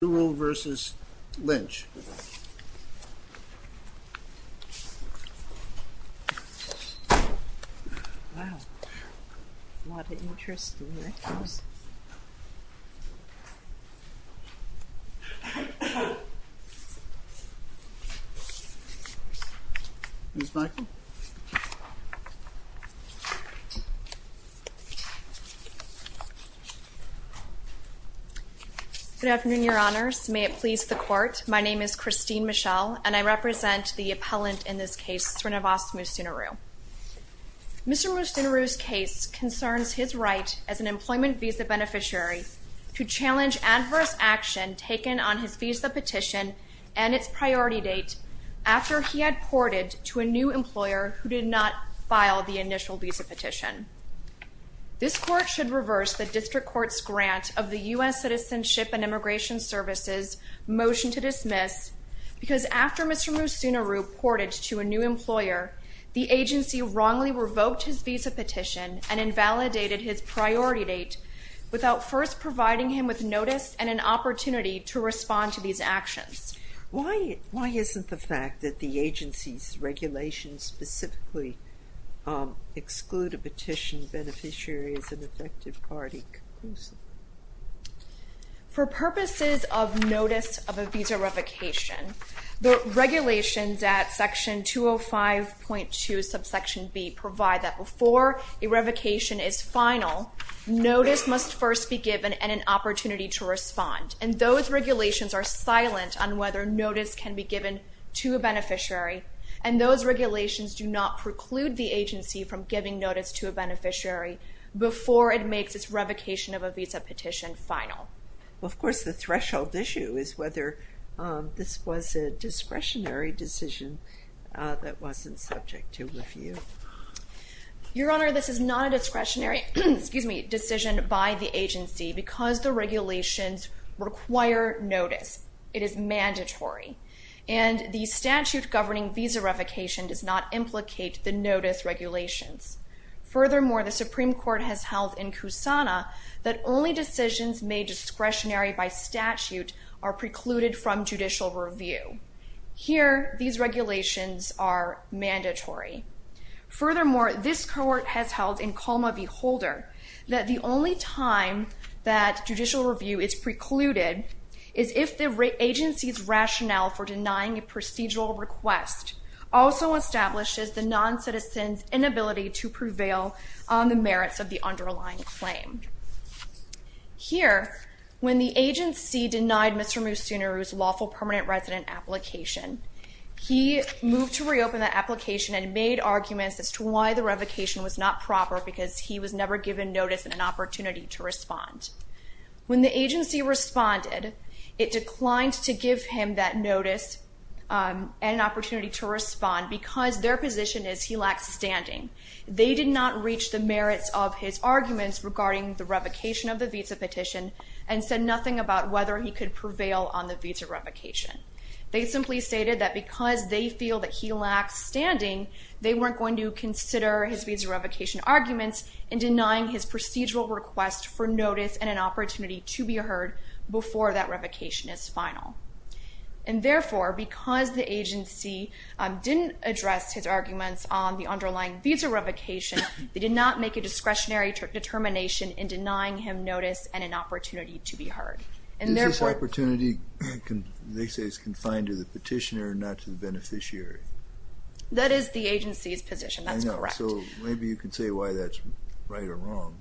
Srinivasa Musunuru v. Loretta E. Lynch Good afternoon, your honors. May it please the court. My name is Christine Michel and I represent the appellant in this case, Srinivasa Musunuru. Mr. Musunuru's case concerns his right as an employment visa beneficiary to challenge adverse action taken on his visa petition and its priority date after he had ported to a new employer who did not file the initial visa petition. This court should reverse the district court's grant of the U.S. Citizenship and Immigration Services motion to dismiss because after Mr. Musunuru ported to a new employer, the agency wrongly revoked his visa petition and invalidated his priority date without first providing him with notice and an opportunity to respond to these actions. Why isn't the fact that the agency's regulations specifically exclude a petition beneficiary as an effective party conclusive? For purposes of notice of a visa revocation, the regulations at section 205.2 subsection B provide that before a revocation is final, notice must first be given and an opportunity to respond and those regulations are silent on whether notice can be given to a beneficiary and those regulations do not preclude the agency from giving notice to a beneficiary before it makes its revocation of a visa petition final. Of course the threshold issue is whether this was a discretionary decision that wasn't subject to review. Your Honor, this is not a discretionary decision by the agency because the regulations require notice. It is mandatory and the statute governing visa revocation does not implicate the notice regulations. Furthermore, the Supreme Court has held in Kusana that only decisions made discretionary by statute are precluded from judicial review. Here these regulations are mandatory. Furthermore, this court has held in Colma v. Holder that the only time that judicial review is precluded is if the agency's rationale for denying a procedural request also establishes a non-citizen's inability to prevail on the merits of the underlying claim. Here when the agency denied Mr. Musunuru's lawful permanent resident application, he moved to reopen the application and made arguments as to why the revocation was not proper because he was never given notice and an opportunity to respond. When the agency responded, it declined to give him that notice and an opportunity to be heard before that revocation is final. They did not reach the merits of his arguments regarding the revocation of the visa petition and said nothing about whether he could prevail on the visa revocation. They simply stated that because they feel that he lacks standing, they weren't going to consider his visa revocation arguments in denying his procedural request for notice and an opportunity to be heard before that revocation is final. And therefore, because the agency didn't address his arguments on the underlying visa revocation, they did not make a discretionary determination in denying him notice and an opportunity to be heard. Is this opportunity, they say, confined to the petitioner and not to the beneficiary? That is the agency's position. That's correct. I know. So maybe you can say why that's right or wrong.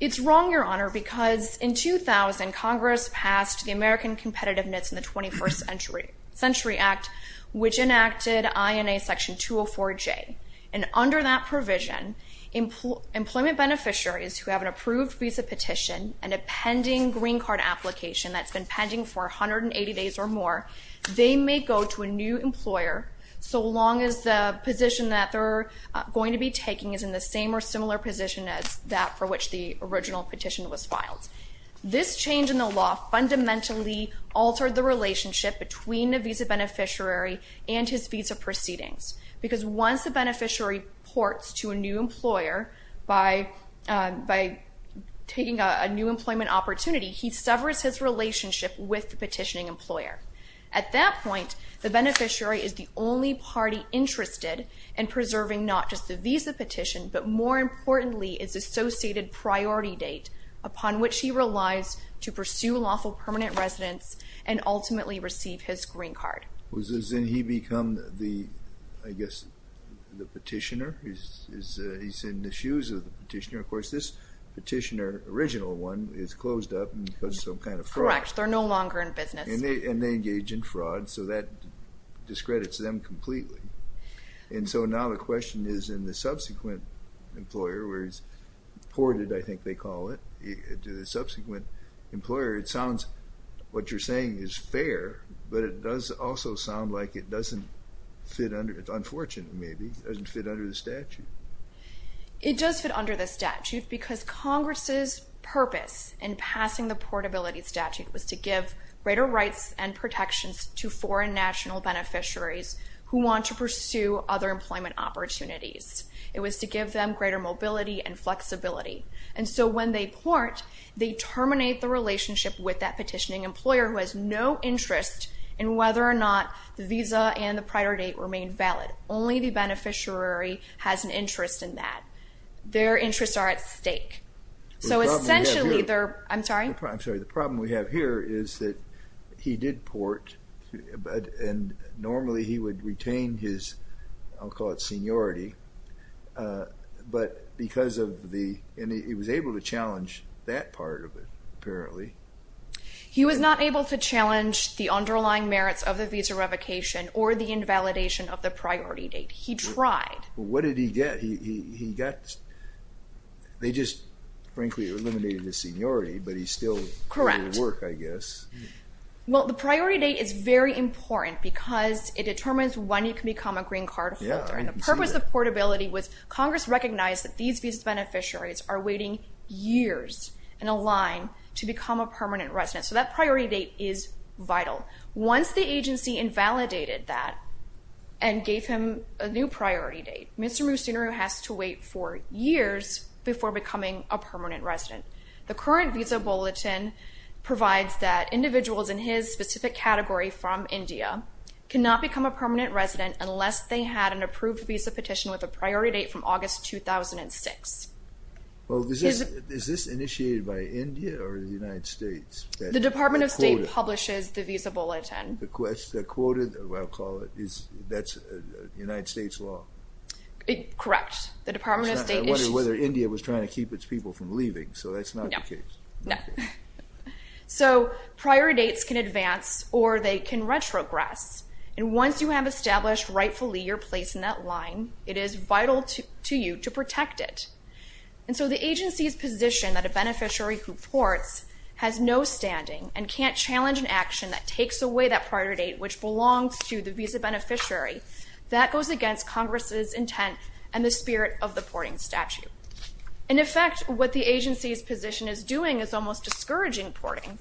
It's wrong, Your Honor, because in 2000, Congress passed the American Competitiveness in the 21st Century Act, which enacted INA Section 204J. And under that provision, employment beneficiaries who have an approved visa petition and a pending green card application that's been pending for 180 days or more, they may go to a new employer so long as the position that they're going to be taking is in the same or similar position as that for which the original petition was filed. This change in the law fundamentally altered the relationship between the visa beneficiary and his visa proceedings. Because once a beneficiary reports to a new employer by taking a new employment opportunity, he severs his relationship with the petitioning employer. At that point, the beneficiary is the only party interested in preserving not just the More importantly, it's associated priority date upon which he relies to pursue lawful permanent residence and ultimately receive his green card. So then he becomes the, I guess, the petitioner, he's in the shoes of the petitioner. Of course, this petitioner, original one, is closed up because of some kind of fraud. Correct. They're no longer in business. And they engage in fraud. So that discredits them completely. And so now the question is in the subsequent employer, where he's ported, I think they call it, to the subsequent employer, it sounds, what you're saying is fair, but it does also sound like it doesn't fit under, it's unfortunate maybe, it doesn't fit under the statute. It does fit under the statute because Congress's purpose in passing the portability statute was to give greater rights and protections to foreign national beneficiaries who want to pursue other employment opportunities. It was to give them greater mobility and flexibility. And so when they port, they terminate the relationship with that petitioning employer who has no interest in whether or not the visa and the priority date remain valid. Only the beneficiary has an interest in that. Their interests are at stake. So essentially they're, I'm sorry? I'm sorry. The problem we have here is that he did port, and normally he would retain his, I'll call it seniority, but because of the, and he was able to challenge that part of it, apparently. He was not able to challenge the underlying merits of the visa revocation or the invalidation of the priority date. He tried. What did he get? He got, they just frankly eliminated his seniority, but he's still doing the work, I guess. Well, the priority date is very important because it determines when you can become a green card holder. And the purpose of portability was Congress recognized that these visa beneficiaries are waiting years in a line to become a permanent resident. So that priority date is vital. Once the agency invalidated that and gave him a new priority date, Mr. Musunuru has to wait for years before becoming a permanent resident. The current visa bulletin provides that individuals in his specific category from India cannot become a permanent resident unless they had an approved visa petition with a priority date from August 2006. Well, is this initiated by India or the United States? The Department of State publishes the visa bulletin. The quoted, I'll call it, that's United States law? Correct. The Department of State is... I was wondering whether India was trying to keep its people from leaving. So that's not the case. So priority dates can advance or they can retrogress. And once you have established rightfully your place in that line, it is vital to you to protect it. And so the agency's position that a beneficiary who ports has no standing and can't challenge an action that takes away that priority date, which belongs to the visa beneficiary, that goes against Congress's intent and the spirit of the porting statute. In effect, what the agency's position is doing is almost discouraging porting.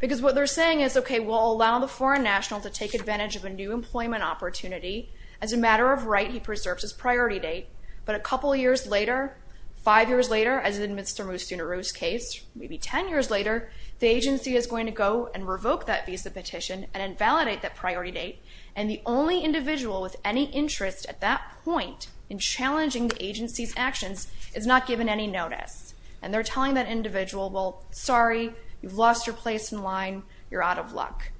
Because what they're saying is, okay, we'll allow the foreign national to take advantage of a new employment opportunity. As a matter of right, he preserves his priority date. But a couple of years later, five years later, as in Mr. Muthunuru's case, maybe 10 years later, the agency is going to go and revoke that visa petition and invalidate that priority date. And the only individual with any interest at that point in challenging the agency's actions is not given any notice. And they're telling that individual, well, sorry, you've lost your place in line. You're out of luck.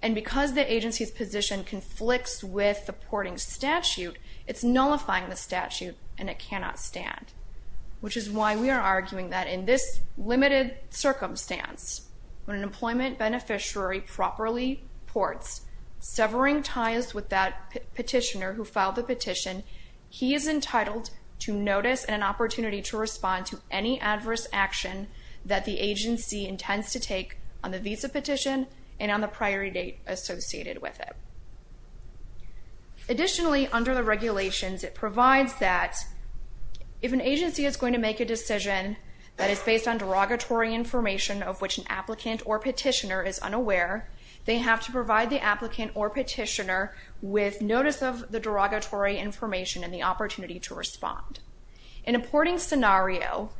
And because the agency's position conflicts with the porting statute, it's nullifying the statute and it cannot stand. Which is why we are arguing that in this limited circumstance, when an employment beneficiary properly ports, severing ties with that petitioner who filed the petition, he is entitled to notice and an opportunity to respond to any adverse action that the agency intends to take on that petition and on the priority date associated with it. Additionally, under the regulations, it provides that if an agency is going to make a decision that is based on derogatory information of which an applicant or petitioner is unaware, they have to provide the applicant or petitioner with notice of the derogatory information and the opportunity to respond. In a porting scenario,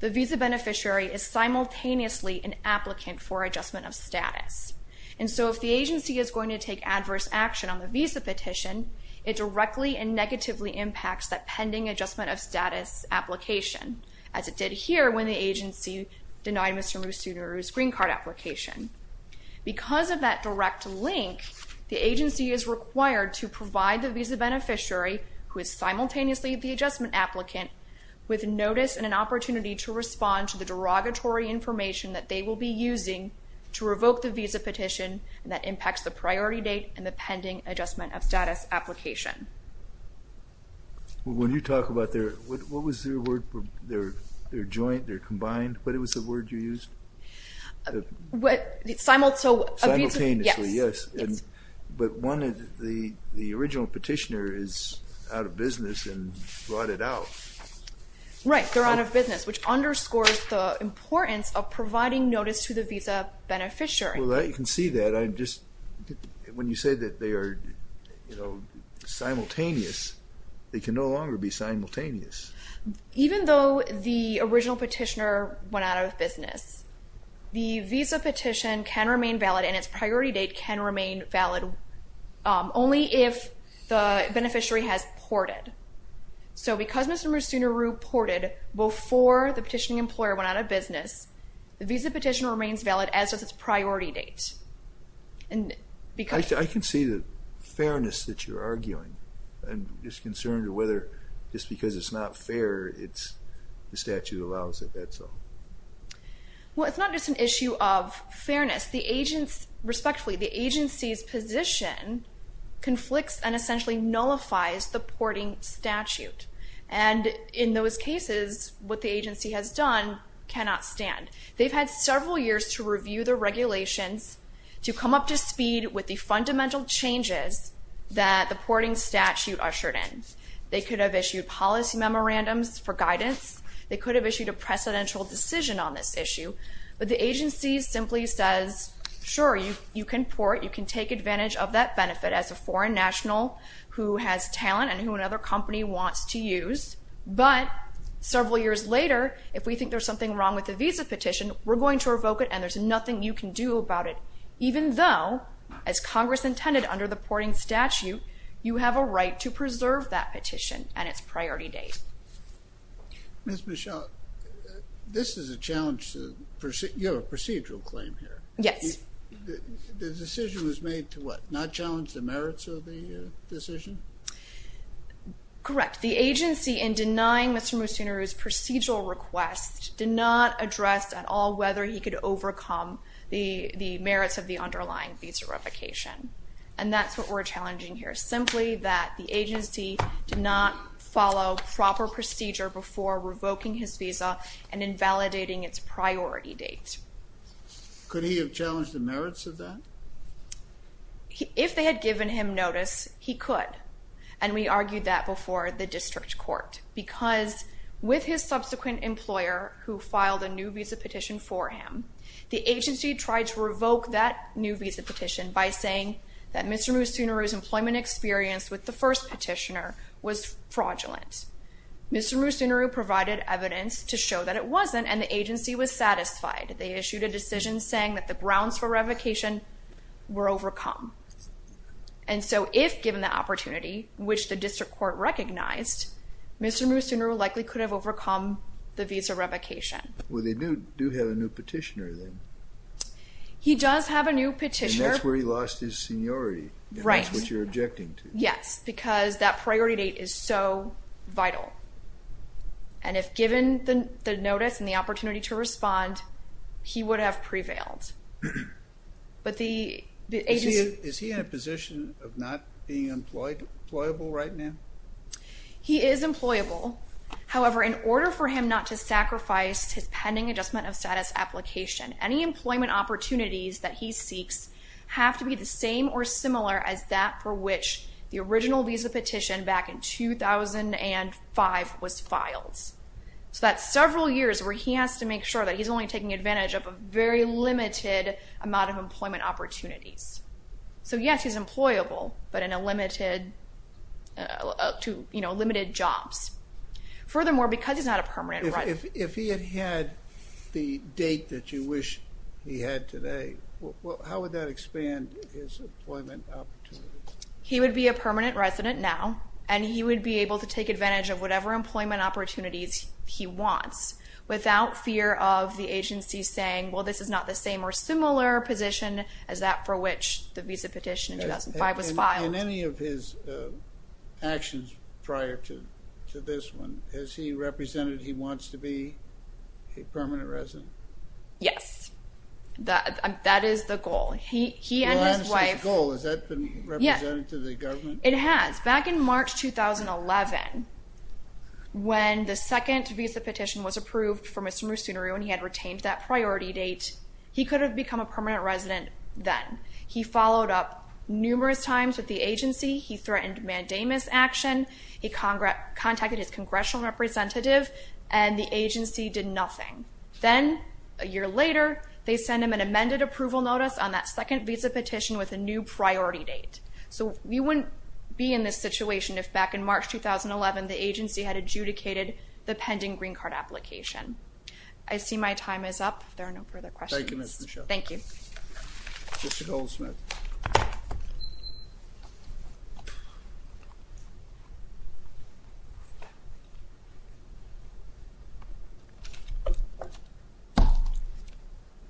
the visa beneficiary is simultaneously an applicant for adjustment of status. And so if the agency is going to take adverse action on the visa petition, it directly and negatively impacts that pending adjustment of status application, as it did here when the agency denied Mr. Musunuru's green card application. Because of that direct link, the agency is required to provide the visa beneficiary, who is simultaneously the adjustment applicant, with notice and an opportunity to respond to the derogatory information that they will be using to revoke the visa petition that impacts the priority date and the pending adjustment of status application. When you talk about their, what was their word for their joint, their combined, what was the word you used? Simultaneously, yes. But one of the original petitioner is out of business and brought it out. Right, they're out of business, which underscores the importance of providing notice to the visa beneficiary. Well, you can see that. When you say that they are simultaneous, they can no longer be simultaneous. Even though the original petitioner went out of business, the visa petition can remain valid and its priority date can remain valid only if the beneficiary has ported. So because Mr. Musunuru ported before the petitioning employer went out of business, the visa petition remains valid as does its priority date. I can see the fairness that you're arguing and just concerned whether just because it's not fair, the statute allows it, that's all. Well, it's not just an issue of fairness. The agents, respectfully, the agency's position conflicts and essentially nullifies the porting statute. And in those cases, what the agency has done cannot stand. They've had several years to review the regulations, to come up to speed with the fundamental changes that the porting statute ushered in. They could have issued policy memorandums for guidance. They could have issued a precedential decision on this issue. But the agency simply says, sure, you can port, you can take advantage of that benefit as a foreign national who has talent and who another company wants to use. But several years later, if we think there's something wrong with the visa petition, we're going to revoke it and there's nothing you can do about it. Even though, as Congress intended under the porting statute, you have a right to preserve that petition and its priority date. Ms. Michel, this is a challenge to your procedural claim here. Yes. The decision was made to what? Not challenge the merits of the decision? Correct. The agency, in denying Mr. Musunuru's procedural request, did not address at all whether he could overcome the merits of the underlying visa revocation. And that's what we're challenging here. Simply that the agency did not follow proper procedure before revoking his visa and invalidating its priority date. Could he have challenged the merits of that? If they had given him notice, he could. And we argued that before the district court. Because with his subsequent employer who filed a new visa petition for him, the agency tried to revoke that new visa petition by saying that Mr. Musunuru's employment experience with the first petitioner was fraudulent. Mr. Musunuru provided evidence to show that it wasn't and the agency was satisfied. They issued a decision saying that the grounds for revocation were overcome. And so, if given the opportunity, which the district court recognized, Mr. Musunuru likely could have overcome the visa revocation. Well, they do have a new petitioner then. He does have a new petitioner. And that's where he lost his seniority. Right. And that's what you're objecting to. Yes. Because that priority date is so vital. And if given the notice and the opportunity to respond, he would have prevailed. But the agency... Is he in a position of not being employable right now? He is employable. However, in order for him not to sacrifice his pending adjustment of status application, any employment opportunities that he seeks have to be the same or similar as that for which the original visa petition back in 2005 was filed. So that's several years where he has to make sure that he's only taking advantage of a very limited amount of employment opportunities. So yes, he's employable, but in a limited, you know, limited jobs. Furthermore, because he's not a permanent resident... If he had had the date that you wish he had today, how would that expand his employment opportunities? He would be a permanent resident now, and he would be able to take advantage of whatever employment opportunities he wants without fear of the agency saying, well, this is not the same or similar position as that for which the visa petition in 2005 was filed. In any of his actions prior to this one, has he represented he wants to be a permanent resident? Yes. That is the goal. He and his wife... Has that been represented to the government? It has. Back in March 2011, when the second visa petition was approved for Mr. Musunuru and he had retained that priority date, he could have become a permanent resident then. He followed up numerous times with the agency. He threatened mandamus action. He contacted his congressional representative, and the agency did nothing. Then, a year later, they send him an amended approval notice on that second visa petition with a new priority date. We wouldn't be in this situation if back in March 2011, the agency had adjudicated the pending green card application. I see my time is up. If there are no further questions... Thank you, Ms. Michele. Thank you. Mr. Goldsmith.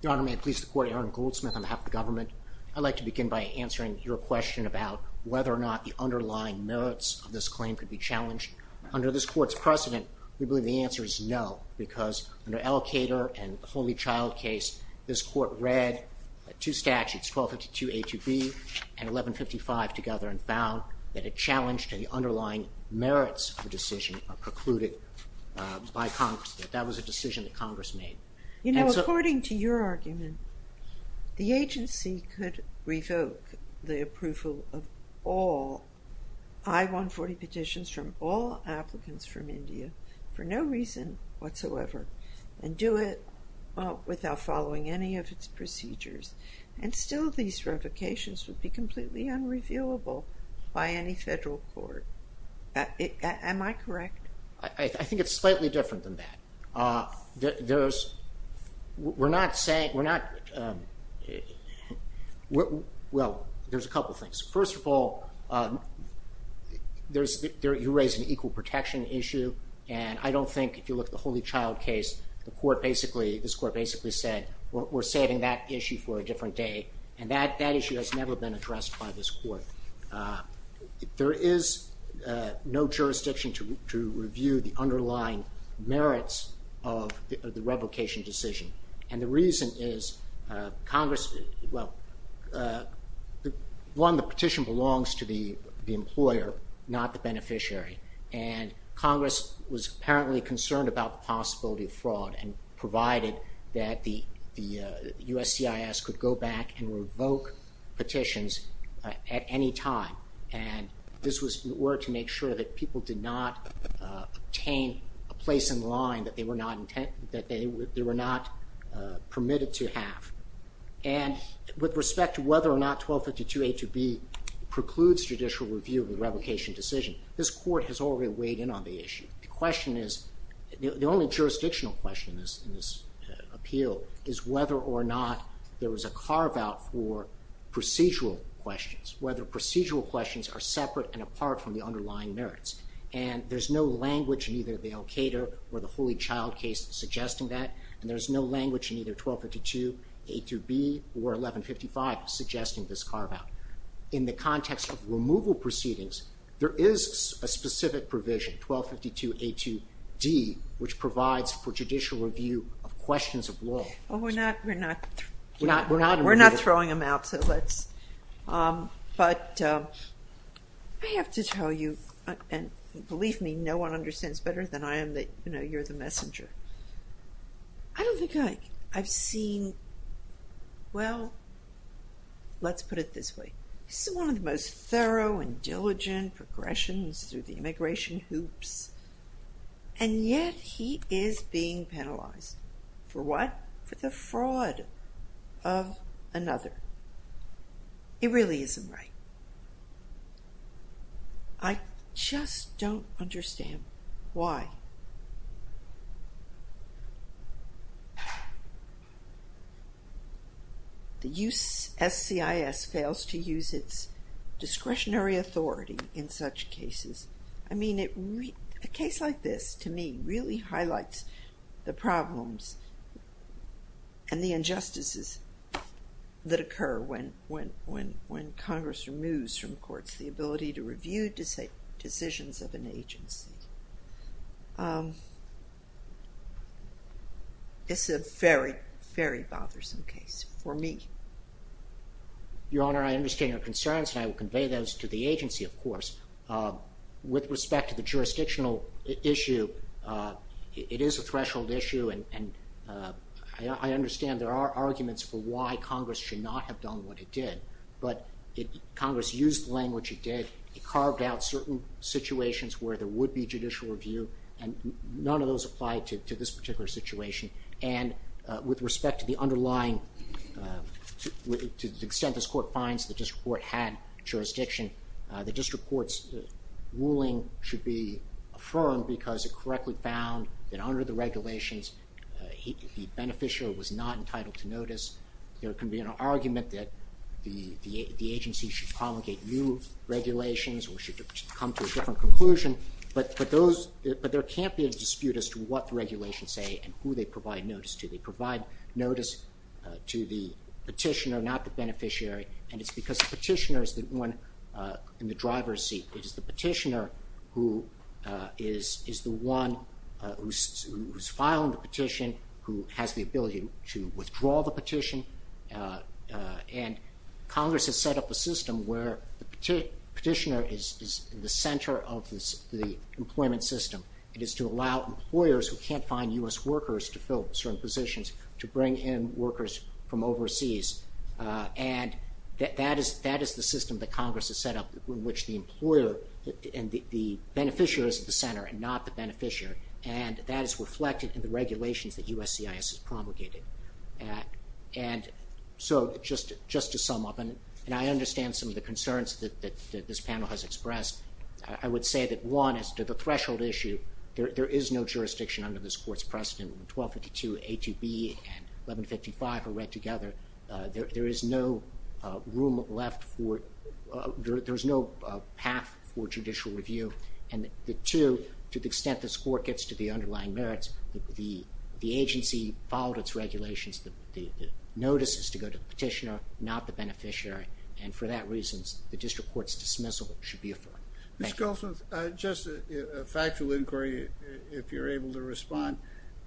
Your Honor, may I please report Aaron Goldsmith on behalf of the government? I'd like to begin by answering your question about whether or not the underlying merits of this claim could be challenged. Under this court's precedent, we believe the answer is no, because under Allocator and the Holy Child case, this court read two statutes, 1252A to B and 1155 together and found that a challenge to the underlying merits of the decision are precluded by Congress. That was a decision that Congress made. You know, according to your argument, the agency could revoke the approval of all I-140 petitions from all applicants from India for no reason whatsoever and do it without following any of its procedures, and still these revocations would be completely unreviewable by any federal court. Am I correct? I think it's slightly different than that. There's, we're not saying, we're not, well, there's a couple things. First of all, there's, you raise an equal protection issue and I don't think if you look at the Holy Child case, the court basically, this court basically said, we're saving that issue for a different day, and that issue has never been addressed by this court. There is no jurisdiction to review the underlying merits of the revocation decision, and the reason is Congress, well, one, the petition belongs to the employer, not the beneficiary, and Congress was apparently concerned about the possibility of fraud and provided that the USCIS could go back and revoke petitions at any time, and this was in order to make sure that people did not obtain a place in the line that they were not, that they were not permitted to have, and with respect to whether or not 1252A to B precludes judicial review of the revocation decision, this court has already weighed in on the issue. The question is, the only jurisdictional question in this appeal is whether or not there was a carve-out for procedural questions, whether procedural questions are separate and apart from the underlying merits, and there's no language in either the al-Qaeda or the Holy Child case suggesting that, and there's no language in either 1252A to B or 1155 suggesting this carve-out. In the context of removal proceedings, there is a specific provision, 1252A to D, which provides for judicial review of questions of law. Well, we're not throwing them out, so let's, but I have to tell you, and believe me, no one understands better than I am that, you know, you're the messenger. I don't think I've seen, well, let's put it this way, this is one of the most thorough and diligent progressions through the immigration hoops, and yet he is being penalized. For what? For the fraud of another. It really isn't right. I just don't understand why the USCIS fails to use its discretionary authority in such cases. I mean, a case like this, to me, really highlights the problems and the injustices that occur when Congress removes from courts the ability to review decisions of an agency. It's a very, very bothersome case for me. Your Honor, I understand your concerns, and I will convey those to the agency, of course. With respect to the jurisdictional issue, it is a threshold issue, and I understand there are arguments for why Congress should not have done what it did, but Congress used the language it did. It carved out certain situations where there would be judicial review, and none of those apply to this particular situation, and with respect to the underlying, to the extent this court finds the district court had jurisdiction, the district court's ruling should be affirmed because it correctly found that under the regulations, the beneficiary was not entitled to notice. There can be an argument that the agency should promulgate new regulations or should come to a different conclusion, but there can't be a dispute as to what the regulations say and who they provide notice to. They provide notice to the petitioner, not the beneficiary, and it's because the petitioner is the one in the driver's seat. It is the petitioner who is the one who's filing the petition, who has the ability to withdraw the petition, and Congress has set up a system where the petitioner is in the center of the employment system. It is to allow employers who can't find U.S. workers to fill certain positions to bring in workers from overseas, and that is the system that Congress has set up in which the employer and the beneficiary is at the center and not the beneficiary, and that is reflected in the regulations that USCIS has promulgated. And so, just to sum up, and I understand some of the concerns that this panel has expressed. I would say that, one, as to the threshold issue, there is no jurisdiction under this together. There is no room left for, there's no path for judicial review, and two, to the extent this Court gets to the underlying merits, the agency followed its regulations, the notice is to go to the petitioner, not the beneficiary, and for that reason, the district court's dismissal should be afforded. Thank you. Mr. Goldsmith, just a factual inquiry, if you're able to respond.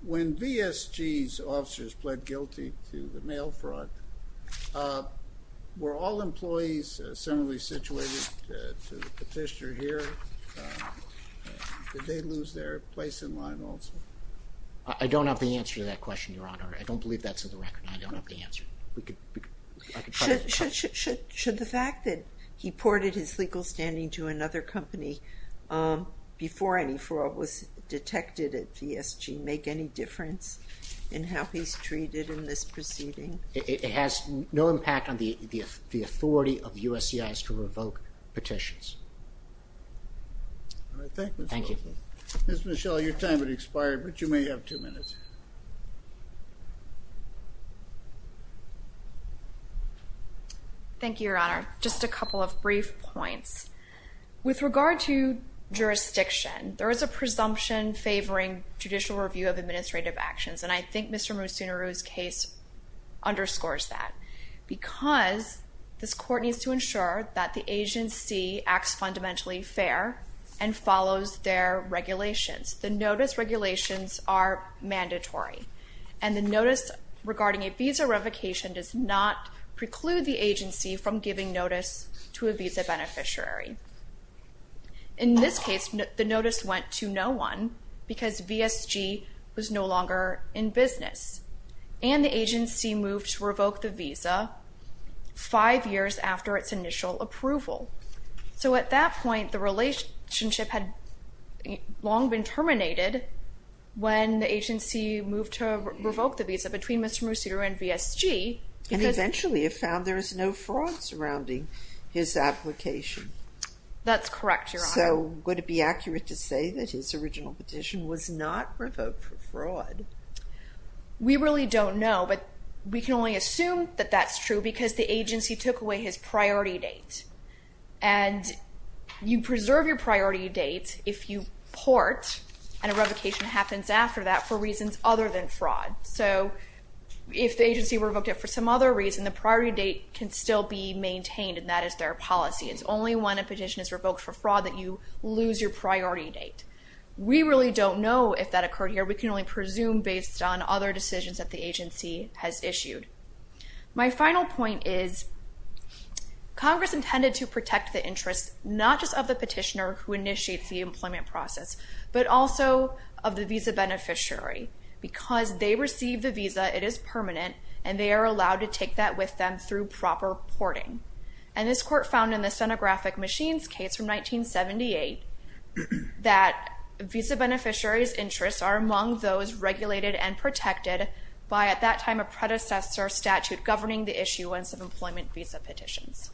When VSG's officers pled guilty to the mail fraud, were all employees similarly situated to the petitioner here? Did they lose their place in line also? I don't have the answer to that question, Your Honor. I don't believe that's on the record. I don't have the answer. Should the fact that he ported his legal standing to another company before any fraud was detected at VSG make any difference in how he's treated in this proceeding? It has no impact on the authority of USCIS to revoke petitions. All right. Thank you, Mr. Goldsmith. Thank you. Ms. Michelle, your time has expired, but you may have two minutes. Thank you, Your Honor. Just a couple of brief points. With regard to jurisdiction, there is a presumption favoring judicial review of administrative actions, and I think Mr. Musunuru's case underscores that, because this court needs to ensure that the agency acts fundamentally fair and follows their regulations. The notice regulations are mandatory, and the notice regarding a visa revocation does not preclude the agency from giving notice to a visa beneficiary. In this case, the notice went to no one because VSG was no longer in business, and the agency moved to revoke the visa five years after its initial approval. So, at that point, the relationship had long been terminated when the agency moved to revoke the visa between Mr. Musunuru and VSG. And eventually, it found there was no fraud surrounding his application. That's correct, Your Honor. So, would it be accurate to say that his original petition was not revoked for fraud? We really don't know, but we can only assume that that's true because the agency took away his priority date, and you preserve your priority date if you port and a revocation happens after that for reasons other than fraud. So, if the agency revoked it for some other reason, the priority date can still be maintained, and that is their policy. It's only when a petition is revoked for fraud that you lose your priority date. We really don't know if that occurred here. We can only presume based on other decisions that the agency has issued. My final point is, Congress intended to protect the interests, not just of the petitioner who initiates the employment process, but also of the visa beneficiary. Because they receive the visa, it is permanent, and they are allowed to take that with them through proper porting. And this Court found in the stenographic machines case from 1978 that visa beneficiaries' interests are among those regulated and protected by, at that time, a predecessor statute governing the issuance of employment visa petitions.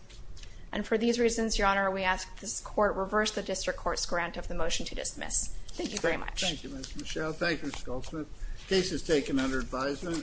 And for these reasons, Your Honor, we ask this Court reverse the District Court's grant of the motion to dismiss. Thank you very much. Thank you, Ms. Michelle. Thank you, Ms. Goldsmith. The case is taken under advisement.